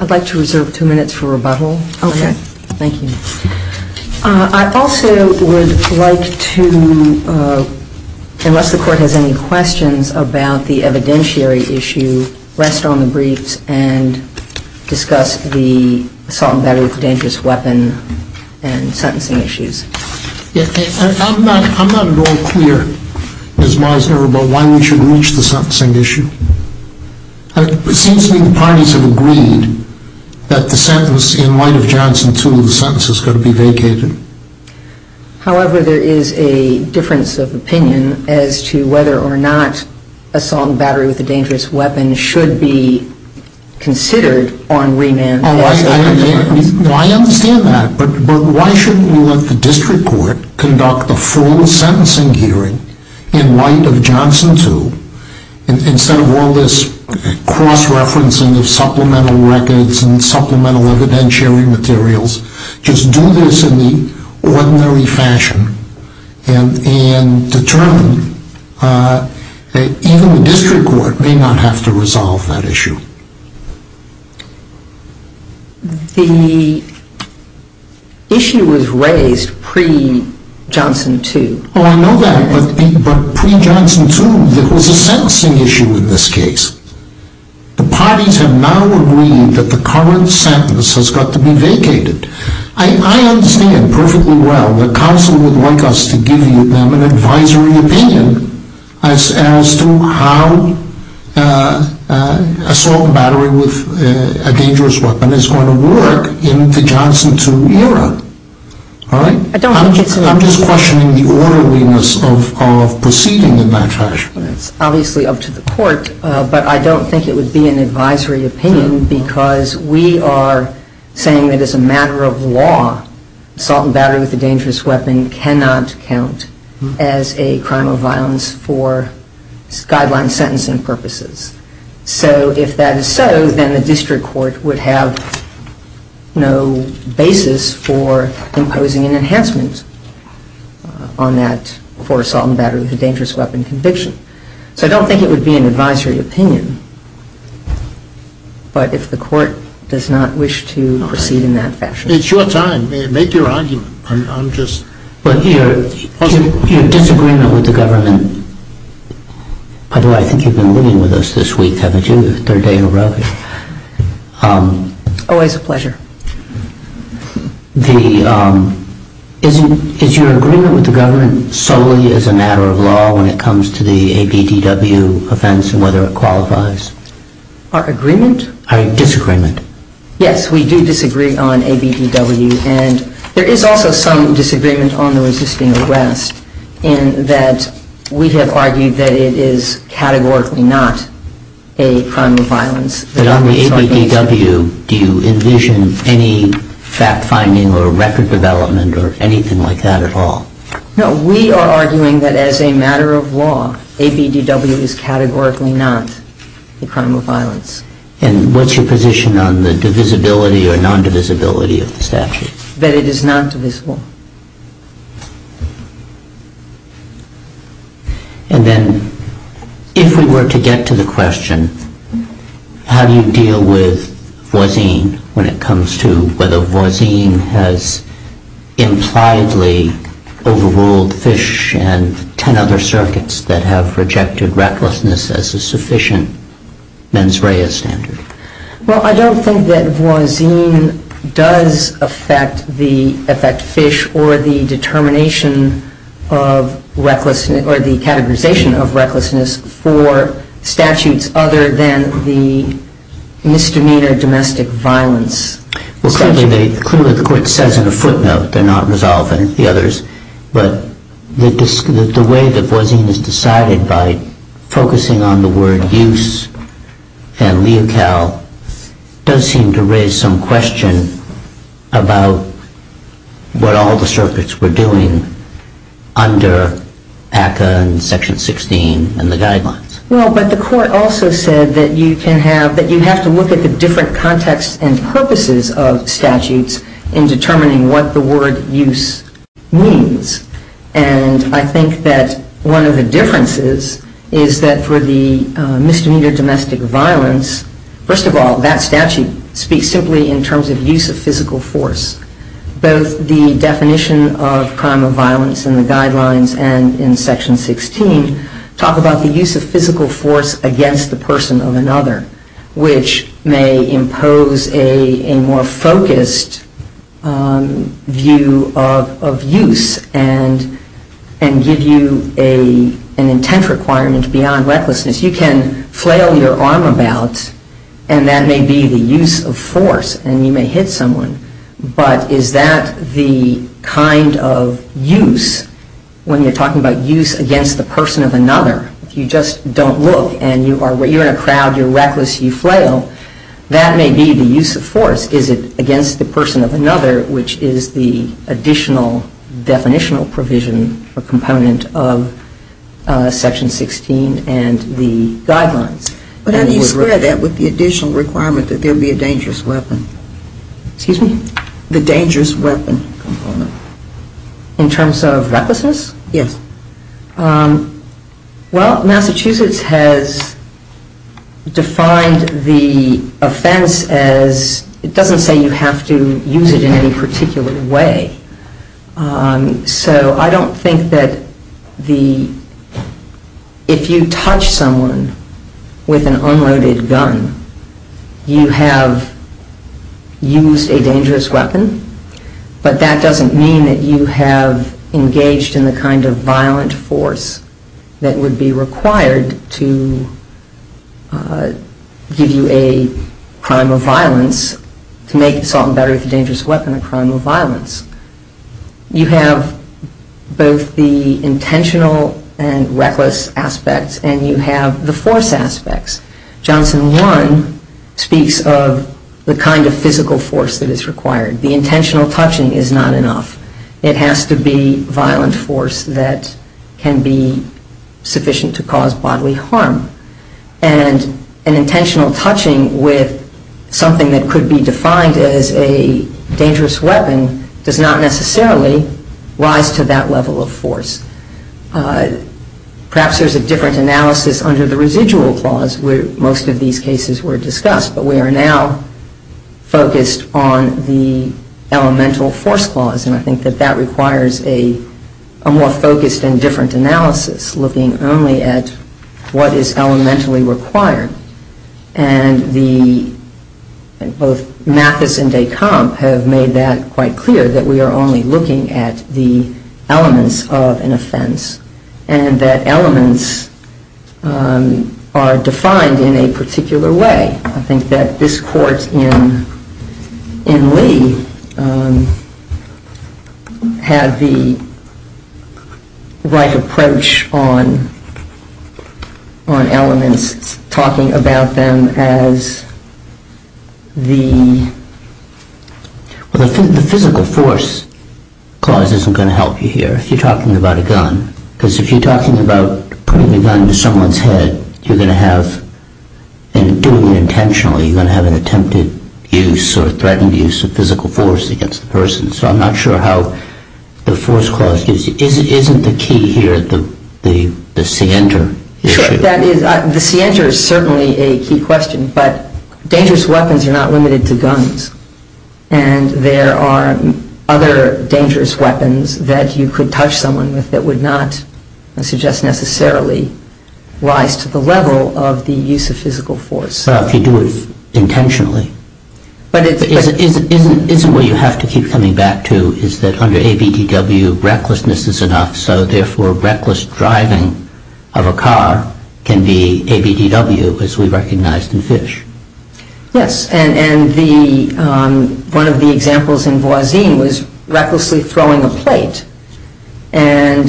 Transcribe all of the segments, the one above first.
I'd like to reserve two minutes for rebuttal. Okay. Thank you. I also would like to, unless the court has any questions about the evidentiary issue, rest on the briefs and discuss the assault and battery with a dangerous weapon and sentencing issues. I'm not at all clear as far as why we should reach the sentencing issue. It seems to me the parties have agreed that the sentence in light of Johnson 2, the sentence is going to be vacated. However, there is a difference of opinion as to whether or not assault and battery with a dangerous weapon should be considered on remand. I understand that, but why shouldn't we let the district court conduct the full sentencing hearing in light of Johnson 2 instead of all this cross-referencing of supplemental records and supplemental evidentiary materials? Just do this in the ordinary fashion and determine. Even the district court may not have to resolve that issue. The issue was raised pre-Johnson 2. Oh, I know that, but pre-Johnson 2, there was a sentencing issue in this case. The parties have now agreed that the current sentence has got to be vacated. I understand perfectly well that counsel would like us to give them an advisory opinion as to how assault and battery with a dangerous weapon is going to work in the Johnson 2 era. I'm just questioning the orderliness of proceeding in that fashion. That's obviously up to the court, but I don't think it would be an advisory opinion because we are saying that as a matter of law, assault and battery with a dangerous weapon cannot count as a crime of violence for guideline sentencing purposes. So if that is so, then the district court would have no basis for imposing an enhancement on that for assault and battery with a dangerous weapon conviction. So I don't think it would be an advisory opinion, but if the court does not wish to proceed in that fashion. It's your time. Make your argument. But your disagreement with the government, although I think you've been living with us this week, haven't you? Third day in a row. Always a pleasure. Is your agreement with the government solely as a matter of law when it comes to the ABDW offense and whether it qualifies? Our agreement? Our disagreement. Yes, we do disagree on ABDW and there is also some disagreement on the resisting arrest in that we have argued that it is categorically not a crime of violence. But on the ABDW, do you envision any fact finding or record development or anything like that at all? No, we are arguing that as a matter of law, ABDW is categorically not a crime of violence. And what's your position on the divisibility or non-divisibility of the statute? That it is non-divisible. And then, if we were to get to the question, how do you deal with Voisin when it comes to whether Voisin has impliedly overruled Fish and 10 other circuits that have rejected recklessness as a sufficient mens rea standard? Well, I don't think that Voisin does affect Fish or the determination of recklessness or the categorization of recklessness for statutes other than the misdemeanor domestic violence. Well, clearly the court says in a footnote, they're not resolving the others. But the way that Voisin is decided by focusing on the word use and leocal does seem to raise some question about what all the circuits were doing under ACCA and Section 16 and the guidelines. Well, but the court also said that you have to look at the different contexts and purposes of statutes in determining what the word use means. And I think that one of the differences is that for the misdemeanor domestic violence, first of all, that statute speaks simply in terms of use of physical force. Both the definition of crime of violence in the guidelines and in Section 16 talk about the use of physical force against the person of another, which may impose a more focused view of use and give you an intent requirement beyond recklessness. You can flail your arm about and that may be the use of force and you may hit someone, but is that the kind of use, when you're talking about use against the person of another, if you just don't look and you're in a crowd, you're reckless, you flail, that may be the use of force. And the question is, is it against the person of another, which is the additional definitional provision or component of Section 16 and the guidelines? But how do you square that with the additional requirement that there be a dangerous weapon? Excuse me? The dangerous weapon component. In terms of recklessness? Yes. Well, Massachusetts has defined the offense as, it doesn't say you have to use it in any particular way. So I don't think that the, if you touch someone with an unloaded gun, you have used a dangerous weapon, but that doesn't mean that you have engaged in the kind of violent force that would be required to give you a crime of violence to make assault and battery with a dangerous weapon a crime of violence. You have both the intentional and reckless aspects and you have the force aspects. Johnson 1 speaks of the kind of physical force that is required. The intentional touching is not enough. It has to be violent force that can be sufficient to cause bodily harm. And an intentional touching with something that could be defined as a dangerous weapon does not necessarily rise to that level of force. Perhaps there's a different analysis under the residual clause where most of these cases were discussed, but we are now focused on the elemental force clause. And I think that that requires a more focused and different analysis, looking only at what is elementally required. And both Mathis and de Camp have made that quite clear, that we are only looking at the elements of an offense and that elements are defined in a particular way. I think that this court in Lee had the right approach on elements, talking about them as the physical force clause isn't going to help you here if you're talking about a gun. Because if you're talking about putting a gun to someone's head, you're going to have, and doing it intentionally, you're going to have an attempted use or threatened use of physical force against the person. So I'm not sure how the force clause is. Isn't the key here the scienter issue? Sure. The scienter is certainly a key question. But dangerous weapons are not limited to guns. And there are other dangerous weapons that you could touch someone with that would not, I suggest, necessarily rise to the level of the use of physical force. If you do it intentionally. Isn't where you have to keep coming back to is that under ABDW, recklessness is enough. So therefore, reckless driving of a car can be ABDW, as we recognized in Fish. Yes. And one of the examples in Voisine was recklessly throwing a plate. And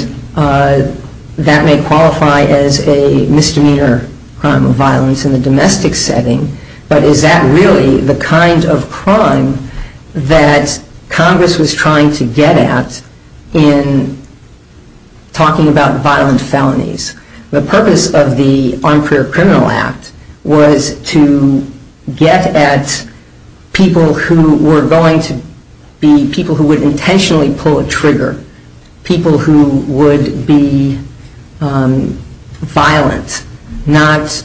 that may qualify as a misdemeanor crime of violence in the domestic setting. But is that really the kind of crime that Congress was trying to get at in talking about violent felonies? The purpose of the Armed Career Criminal Act was to get at people who were going to be people who would intentionally pull a trigger. People who would be violent. Not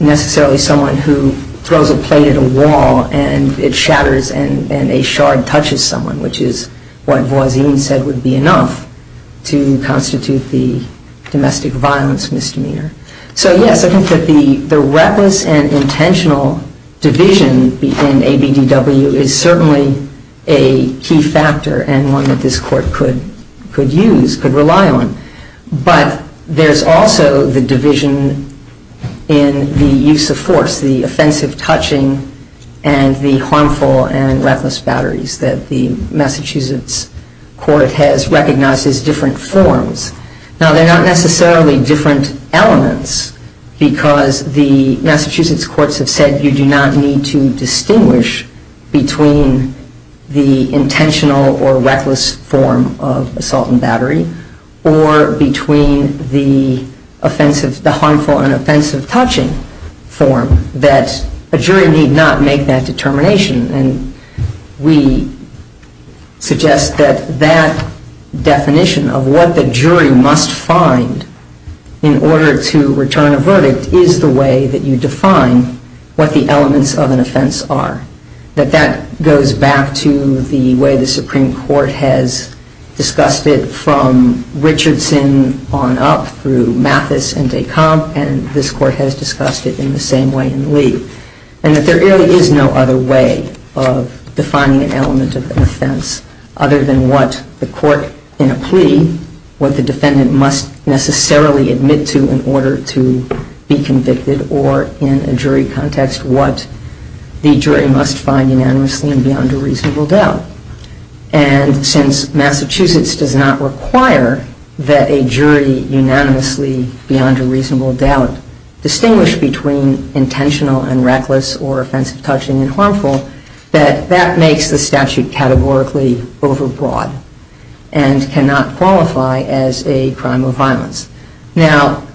necessarily someone who throws a plate at a wall and it shatters and a shard touches someone, which is what Voisine said would be enough to constitute the domestic violence misdemeanor. So yes, I think that the reckless and intentional division in ABDW is certainly a key factor and one that this Court could use, could rely on. But there's also the division in the use of force, the offensive touching and the harmful and reckless batteries that the Massachusetts Court has recognized as different forms. Now, they're not necessarily different elements because the Massachusetts Courts have said you do not need to distinguish between the intentional or reckless form of assault and battery or between the harmful and offensive touching form. But there's also the division in the use of force that a jury need not make that determination and we suggest that that definition of what the jury must find in order to return a verdict is the way that you define what the elements of an offense are. That that goes back to the way the Supreme Court has discussed it from Richardson on up through Mathis and de Camp and this Court has discussed it in the same way in Lee. And that there really is no other way of defining an element of an offense other than what the Court in a plea, what the defendant must necessarily admit to in order to be convicted or in a jury context what the jury must find unanimously and beyond a reasonable doubt. And since Massachusetts does not require that a jury unanimously beyond a reasonable doubt distinguish between intentional and reckless or offensive touching and harmful that that makes the statute categorically over broad and cannot qualify as a crime of violence. Now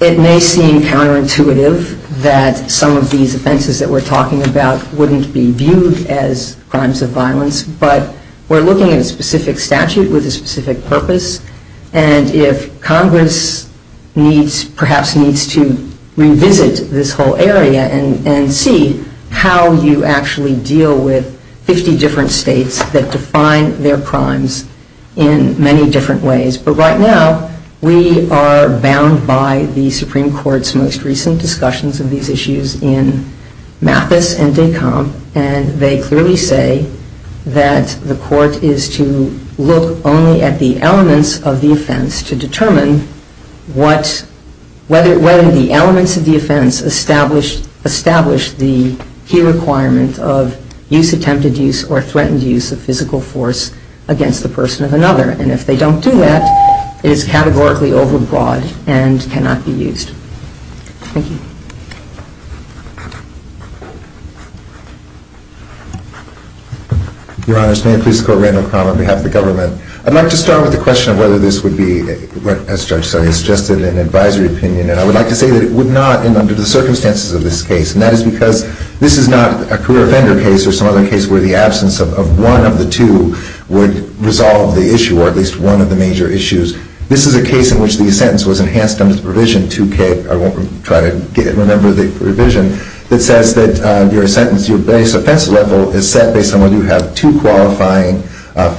it may seem counterintuitive that some of these offenses that we're talking about wouldn't be viewed as crimes of violence but we're looking at a specific statute with a specific purpose and if Congress needs perhaps needs to revisit this whole area and see how you actually deal with 50 different states that define their crimes in many different ways. But right now we are bound by the Supreme Court's most recent discussions of these issues in Mathis and de Camp and they clearly say that the Court is to look only at the elements of the offense to determine whether the elements of the offense establish the key requirement of use attempted use or threatened use of physical force against the person of another. And if they don't do that it is categorically over broad and cannot be used. Thank you. Your Honor, may I please call Randall Cromer on behalf of the government. I'd like to start with the question of whether this would be, as Judge Sonia suggested, an advisory opinion. And I would like to say that it would not under the circumstances of this case. And that is because this is not a career offender case or some other case where the absence of one of the two would resolve the issue or at least one of the major issues. This is a case in which the sentence was enhanced under the provision 2K, I won't try to remember the provision, that says that your sentence, your base offense level is set based on whether you have two qualifying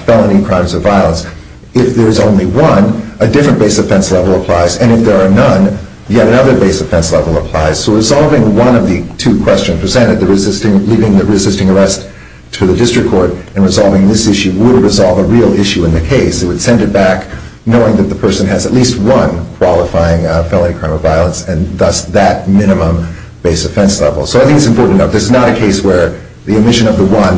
felony crimes of violence. If there is only one, a different base offense level applies. And if there are none, yet another base offense level applies. So resolving one of the two questions presented, leaving the resisting arrest to the district court and resolving this issue would resolve a real issue in the case. It would send it back knowing that the person has at least one qualifying felony crime of violence and thus that minimum base offense level. So I think it's important to note this is not a case where the omission of the one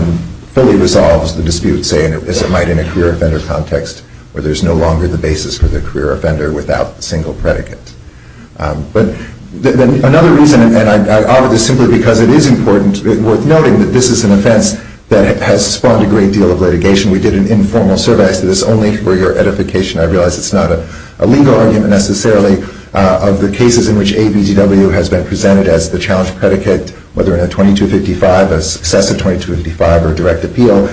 fully resolves the dispute, say, as it might in a career offender context where there is no longer the basis for the career offender without a single predicate. But another reason, and I offer this simply because it is important, worth noting, that this is an offense that has spawned a great deal of litigation. We did an informal survey. I said this only for your edification. I realize it's not a legal argument necessarily of the cases in which ABDW has been presented as the challenge predicate, whether in a 2255, a successive 2255, or direct appeal.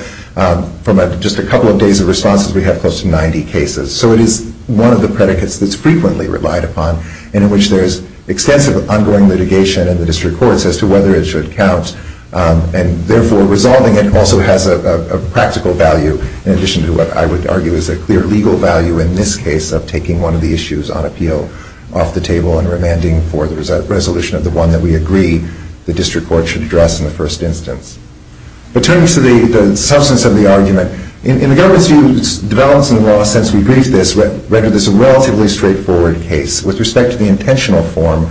From just a couple of days of responses, we have close to 90 cases. So it is one of the predicates that's frequently relied upon and in which there is extensive ongoing litigation in the district courts as to whether it should count. And therefore, resolving it also has a practical value in addition to what I would argue is a clear legal value in this case of taking one of the issues on appeal off the table and remanding for the resolution of the one that we agree the district court should address in the first instance. But turning to the substance of the argument, in the government's view, developments in the law, since we briefed this, rendered this a relatively straightforward case. With respect to the intentional form,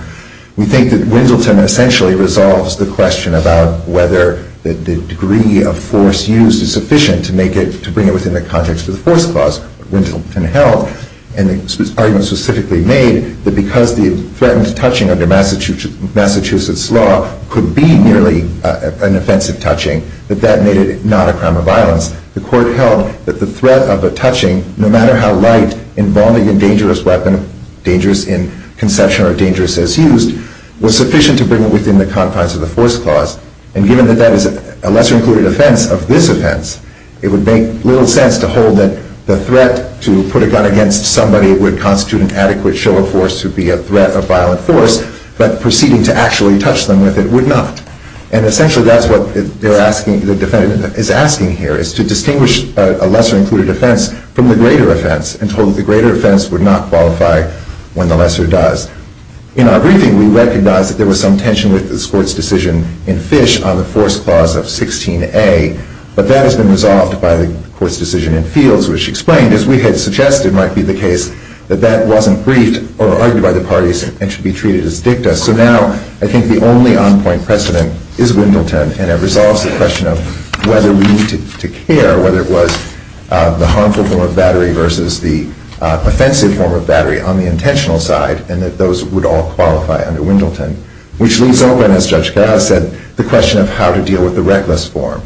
we think that Winsleton essentially resolves the question about whether the degree of force used is sufficient to make it, to bring it within the context of the force clause. Winsleton held, and the argument specifically made, that because the threatened touching under Massachusetts law could be nearly an offensive touching, that that made it not a crime of violence. The court held that the threat of a touching, no matter how light, involving a dangerous weapon, dangerous in conception or dangerous as used, was sufficient to bring it within the confines of the force clause. And given that that is a lesser-included offense of this offense, it would make little sense to hold that the threat to put a gun against somebody would constitute an adequate show of force to be a threat of violent force. But proceeding to actually touch them with it would not. And essentially, that's what the defendant is asking here, is to distinguish a lesser-included offense from the greater offense and told that the greater offense would not qualify when the lesser does. In our briefing, we recognized that there was some tension with this Court's decision in Fish on the force clause of 16A. But that has been resolved by the Court's decision in Fields, which explained, as we had suggested might be the case, that that wasn't briefed or argued by the parties and should be treated as dicta. So now, I think the only on-point precedent is Wendelton, and it resolves the question of whether we need to care, whether it was the harmful form of battery versus the offensive form of battery on the intentional side, and that those would all qualify under Wendelton. Which leaves open, as Judge Carras said, the question of how to deal with the reckless form.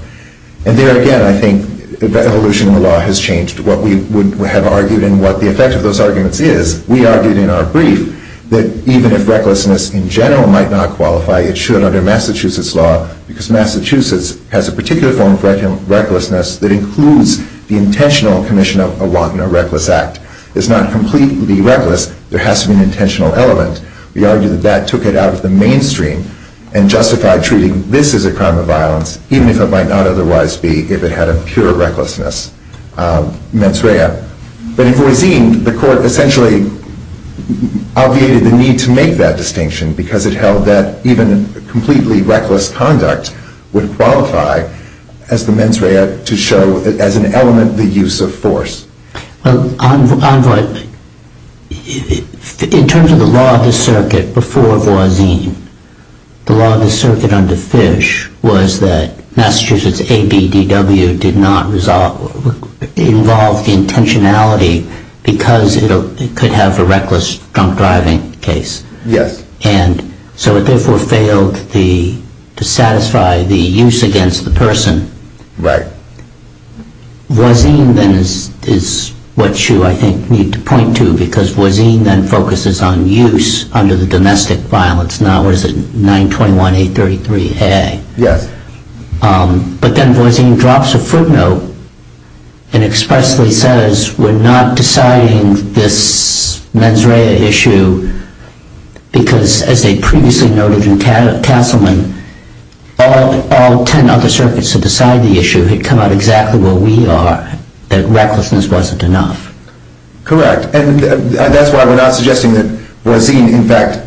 And there again, I think evolution of the law has changed what we would have argued and what the effect of those arguments is. We argued in our brief that even if recklessness in general might not qualify, it should under Massachusetts law, because Massachusetts has a particular form of recklessness that includes the intentional commission of a wanton or reckless act. It's not completely reckless. There has to be an intentional element. We argue that that took it out of the mainstream and justified treating this as a crime of violence, even if it might not otherwise be if it had a pure recklessness mens rea. But in Voisin, the court essentially obviated the need to make that distinction, because it held that even completely reckless conduct would qualify as the mens rea to show as an element the use of force. Well, Envoy, in terms of the law of the circuit before Voisin, the law of the circuit under Fish was that Massachusetts ABDW did not involve the intentionality because it could have a reckless drunk driving case. Yes. And so it therefore failed to satisfy the use against the person. Right. Voisin then is what you, I think, need to point to, because Voisin then focuses on use under the domestic violence. Now, what is it? 921-833-AA. Yes. But then Voisin drops a footnote and expressly says, we're not deciding this mens rea issue because, as they previously noted in Castleman, all 10 other circuits that decide the issue had come out exactly where we are, that recklessness wasn't enough. Correct. And that's why we're not suggesting that Voisin, in fact,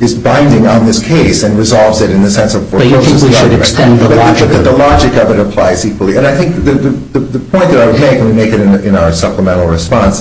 is binding on this case and resolves it in the sense of force. But you think we should extend the logic. But the logic of it applies equally. And I think the point that I would make, and we make it in our supplemental response,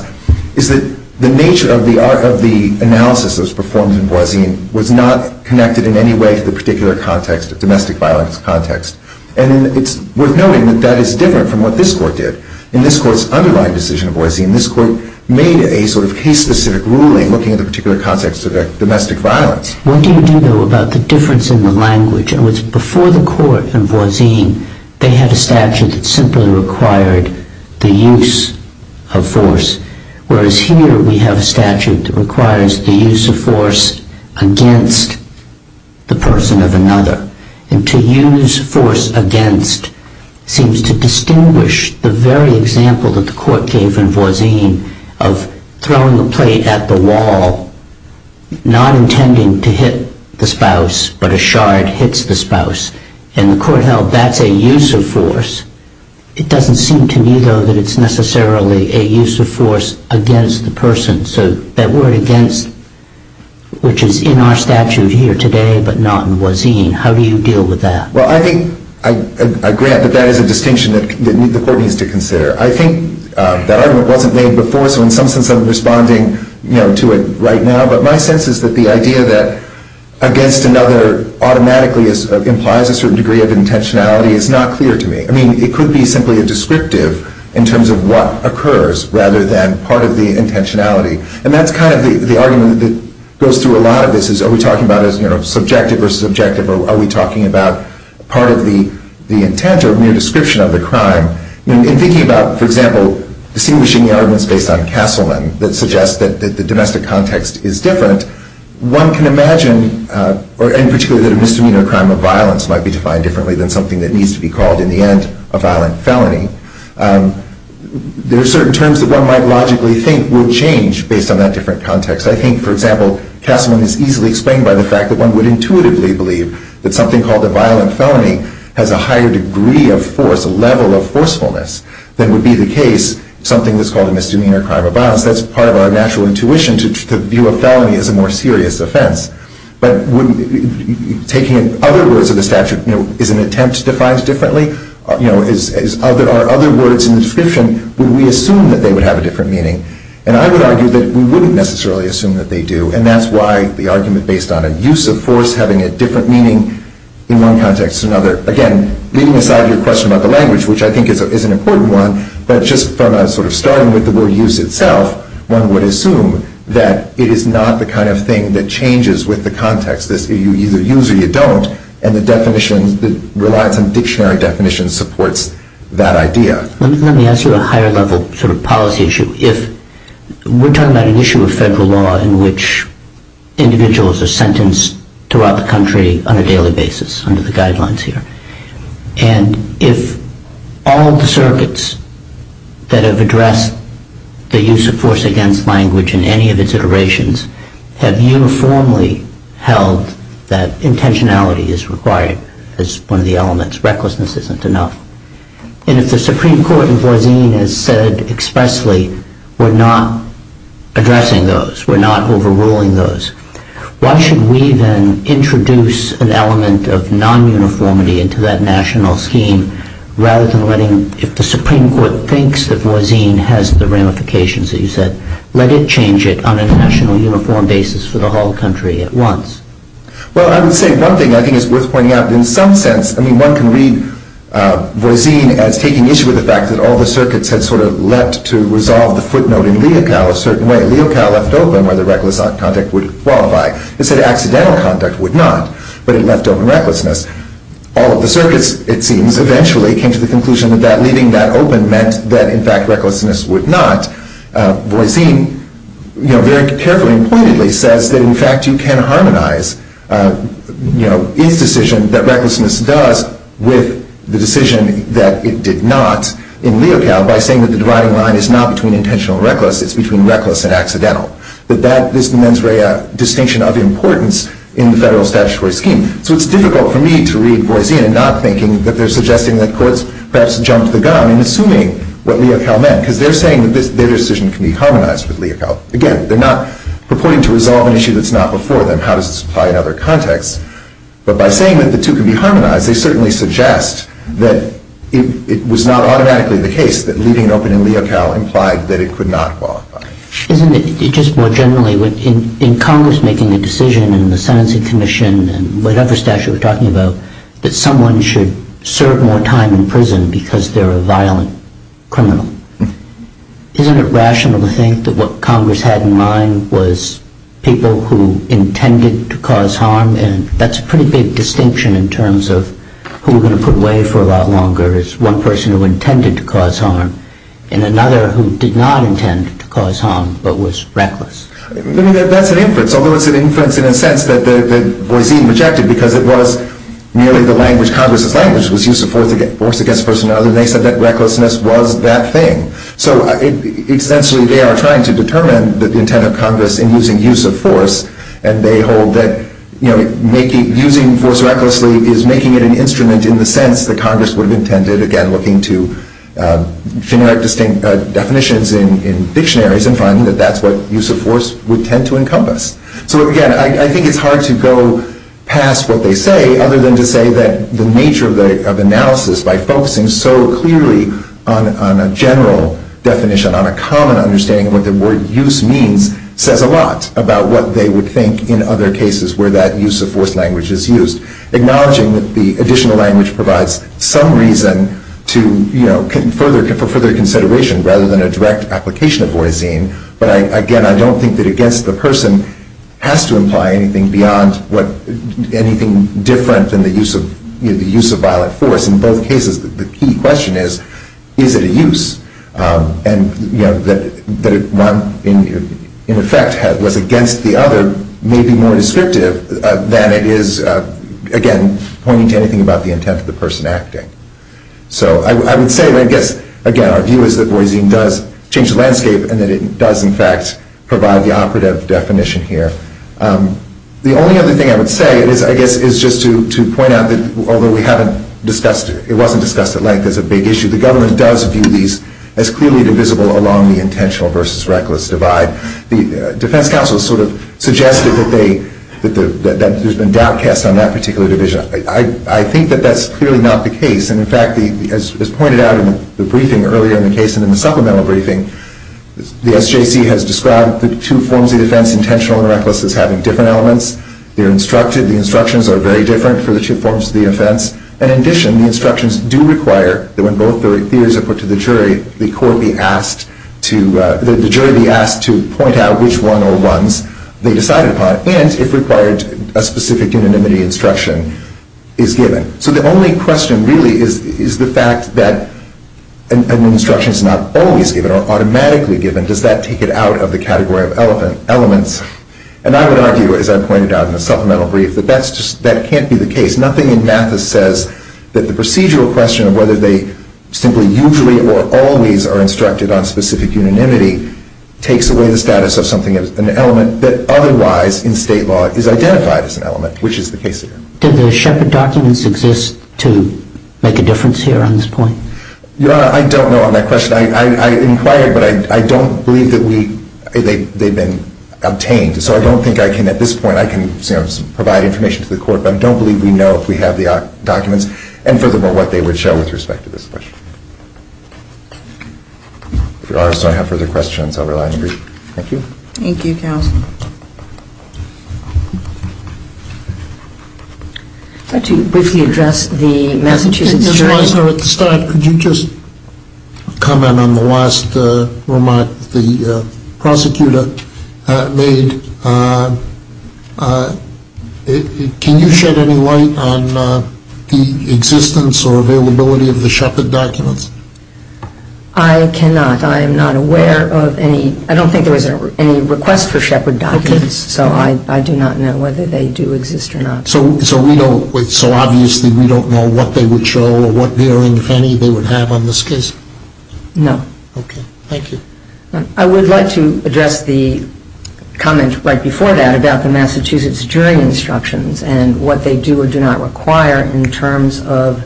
is that the nature of the analysis that was performed in Voisin was not connected in any way to the particular context, domestic violence context. And it's worth noting that that is different from what this Court did. In this Court's underlying decision of Voisin, this Court made a sort of case-specific ruling looking at the particular context of domestic violence. What do you do, though, about the difference in the language? Before the Court in Voisin, they had a statute that simply required the use of force, whereas here we have a statute that requires the use of force against the person of another. And to use force against seems to distinguish the very example that the Court gave in Voisin of throwing a plate at the wall, not intending to hit the spouse, but a shard hits the spouse. And the Court held that's a use of force. It doesn't seem to me, though, that it's necessarily a use of force against the person. So that word against, which is in our statute here today, but not in Voisin, how do you deal with that? Well, I think I grant that that is a distinction that the Court needs to consider. I think that argument wasn't made before, so in some sense I'm responding to it right now. But my sense is that the idea that against another automatically implies a certain degree of intentionality is not clear to me. I mean, it could be simply a descriptive in terms of what occurs rather than part of the intentionality. And that's kind of the argument that goes through a lot of this, is are we talking about subjective versus objective, or are we talking about part of the intent or mere description of the crime? In thinking about, for example, distinguishing the arguments based on Castleman that suggest that the domestic context is different, one can imagine, in particular, that a misdemeanor crime of violence might be defined differently than something that needs to be called, in the end, a violent felony. There are certain terms that one might logically think would change based on that different context. I think, for example, Castleman is easily explained by the fact that one would intuitively believe that something called a violent felony has a higher degree of force, a level of forcefulness, than would be the case of something that's called a misdemeanor crime of violence. That's part of our natural intuition to view a felony as a more serious offense. But taking other words of the statute, is an attempt defined differently? Are other words in the description, would we assume that they would have a different meaning? And I would argue that we wouldn't necessarily assume that they do, and that's why the argument based on a use of force having a different meaning in one context to another. Again, leaving aside your question about the language, which I think is an important one, but just sort of starting with the word use itself, one would assume that it is not the kind of thing that changes with the context. You either use or you don't, and the definition, the reliance on dictionary definitions supports that idea. Let me ask you a higher level sort of policy issue. We're talking about an issue of federal law in which individuals are sentenced throughout the country on a daily basis under the guidelines here. And if all the circuits that have addressed the use of force against language in any of its iterations have uniformly held that intentionality is required as one of the elements, recklessness isn't enough, and if the Supreme Court in Voisin has said expressly we're not addressing those, we're not overruling those, why should we then introduce an element of non-uniformity into that national scheme rather than letting, if the Supreme Court thinks that Voisin has the ramifications that you said, let it change it on a national uniform basis for the whole country at once? Well, I would say one thing I think is worth pointing out in some sense. I mean, one can read Voisin as taking issue with the fact that all the circuits had sort of leapt to resolve the footnote in Leocal a certain way. Leocal left open whether reckless conduct would qualify. It said accidental conduct would not, but it left open recklessness. All of the circuits, it seems, eventually came to the conclusion that leaving that open meant that, in fact, recklessness would not. Voisin, you know, very carefully and pointedly says that, in fact, you can harmonize, you know, its decision that recklessness does with the decision that it did not in Leocal by saying that the dividing line is not between intentional and reckless, it's between reckless and accidental. That that is the mens rea distinction of importance in the federal statutory scheme. So it's difficult for me to read Voisin and not thinking that they're suggesting that courts perhaps jumped the gun in assuming what Leocal meant, because they're saying that their decision can be harmonized with Leocal. Again, they're not purporting to resolve an issue that's not before them. How does this apply in other contexts? But by saying that the two can be harmonized, they certainly suggest that it was not automatically the case that leaving it open in Leocal implied that it could not qualify. Isn't it, just more generally, in Congress making a decision in the Sentencing Commission and whatever statute we're talking about, that someone should serve more time in prison because they're a violent criminal? Isn't it rational to think that what Congress had in mind was people who intended to cause harm? And that's a pretty big distinction in terms of who we're going to put away for a lot longer as one person who intended to cause harm and another who did not intend to cause harm but was reckless? I mean, that's an inference. Although it's an inference in a sense that Voisin rejected because it was merely the language, Congress's language was use of force against a person or other, and they said that recklessness was that thing. So essentially, they are trying to determine the intent of Congress in using use of force, and they hold that using force recklessly is making it an instrument in the sense that Congress would have intended, again, looking to generic, distinct definitions in dictionaries and finding that that's what use of force would tend to encompass. So again, I think it's hard to go past what they say other than to say that the nature of analysis, by focusing so clearly on a general definition, on a common understanding of what the word use means, says a lot about what they would think in other cases where that use of force language is used, acknowledging that the additional language provides some reason for further consideration rather than a direct application of Voisin. But again, I don't think that against the person has to imply anything beyond anything different than the use of violent force. In both cases, the key question is, is it a use? And that one, in effect, was against the other may be more descriptive than it is, again, pointing to anything about the intent of the person acting. So I would say, I guess, again, our view is that Voisin does change the landscape and that it does, in fact, provide the operative definition here. The only other thing I would say is, I guess, is just to point out that although we haven't discussed it, it wasn't discussed at length as a big issue. The government does view these as clearly divisible along the intentional versus reckless divide. The defense counsel sort of suggested that there's been doubt cast on that particular division. I think that that's clearly not the case. And in fact, as pointed out in the briefing earlier in the case and in the supplemental briefing, the SJC has described the two forms of defense, intentional and reckless, as having different elements. They're instructed. The instructions are very different for the two forms of the offense. And in addition, the instructions do require that when both theories are put to the jury, the jury be asked to point out which one or ones they decided upon, and if required, a specific unanimity instruction is given. So the only question really is the fact that an instruction is not always given or automatically given. Does that take it out of the category of elements? And I would argue, as I pointed out in the supplemental brief, that that can't be the case. Nothing in Mathis says that the procedural question of whether they simply usually or always are instructed on specific unanimity takes away the status of something as an element that otherwise in state law is identified as an element, which is the case here. Did the Sheppard documents exist to make a difference here on this point? Your Honor, I don't know on that question. I inquired, but I don't believe that they've been obtained. So I don't think I can at this point provide information to the court, but I don't believe we know if we have the documents and furthermore what they would show with respect to this question. If Your Honor, so I have further questions, I'll rely on the brief. Thank you. Thank you, counsel. I'd like to briefly address the Massachusetts jury. Mr. Weisner, at the start, could you just comment on the last remark the prosecutor made? Can you shed any light on the existence or availability of the Sheppard documents? I cannot. I am not aware of any. I don't think there was any request for Sheppard documents, so I do not know whether they do exist or not. So we don't, so obviously we don't know what they would show or what bearing, if any, they would have on this case? No. Okay. Thank you. I would like to address the comment right before that about the Massachusetts jury instructions and what they do or do not require in terms of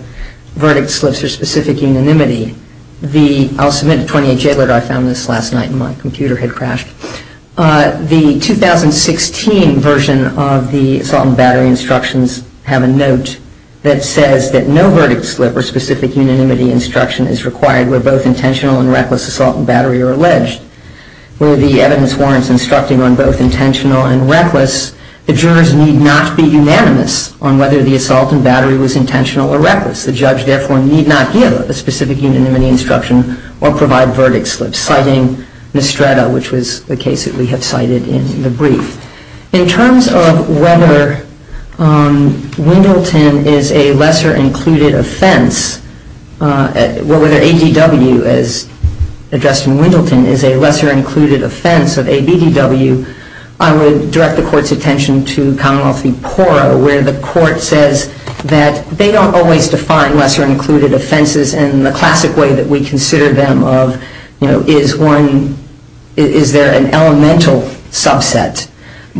verdict slips or specific unanimity. I'll submit a 28-J letter. I found this last night and my computer had crashed. The 2016 version of the assault and battery instructions have a note that says that no verdict slip or specific unanimity instruction is required where both intentional and reckless assault and battery are alleged. Where the evidence warrants instructing on both intentional and reckless, the jurors need not be unanimous on whether the assault and battery was intentional or reckless. The judge, therefore, need not give a specific unanimity instruction or provide verdict slips, citing Nistretta, which was the case that we have cited in the brief. In terms of whether Wendelton is a lesser-included offense, whether ADW, as addressed in Wendelton, is a lesser-included offense of ABDW, I would direct the Court's attention to Commonwealth v. Poro, where the Court says that they don't always define lesser-included offenses in the classic way that we consider them of, you know, is there an elemental subset,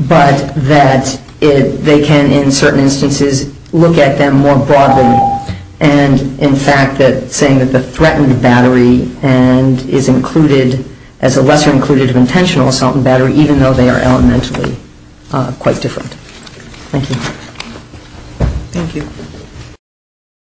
but that they can, in certain instances, look at them more broadly. And, in fact, saying that the threatened battery is included as a lesser-included of intentional assault and battery, even though they are elementally quite different. Thank you. Thank you.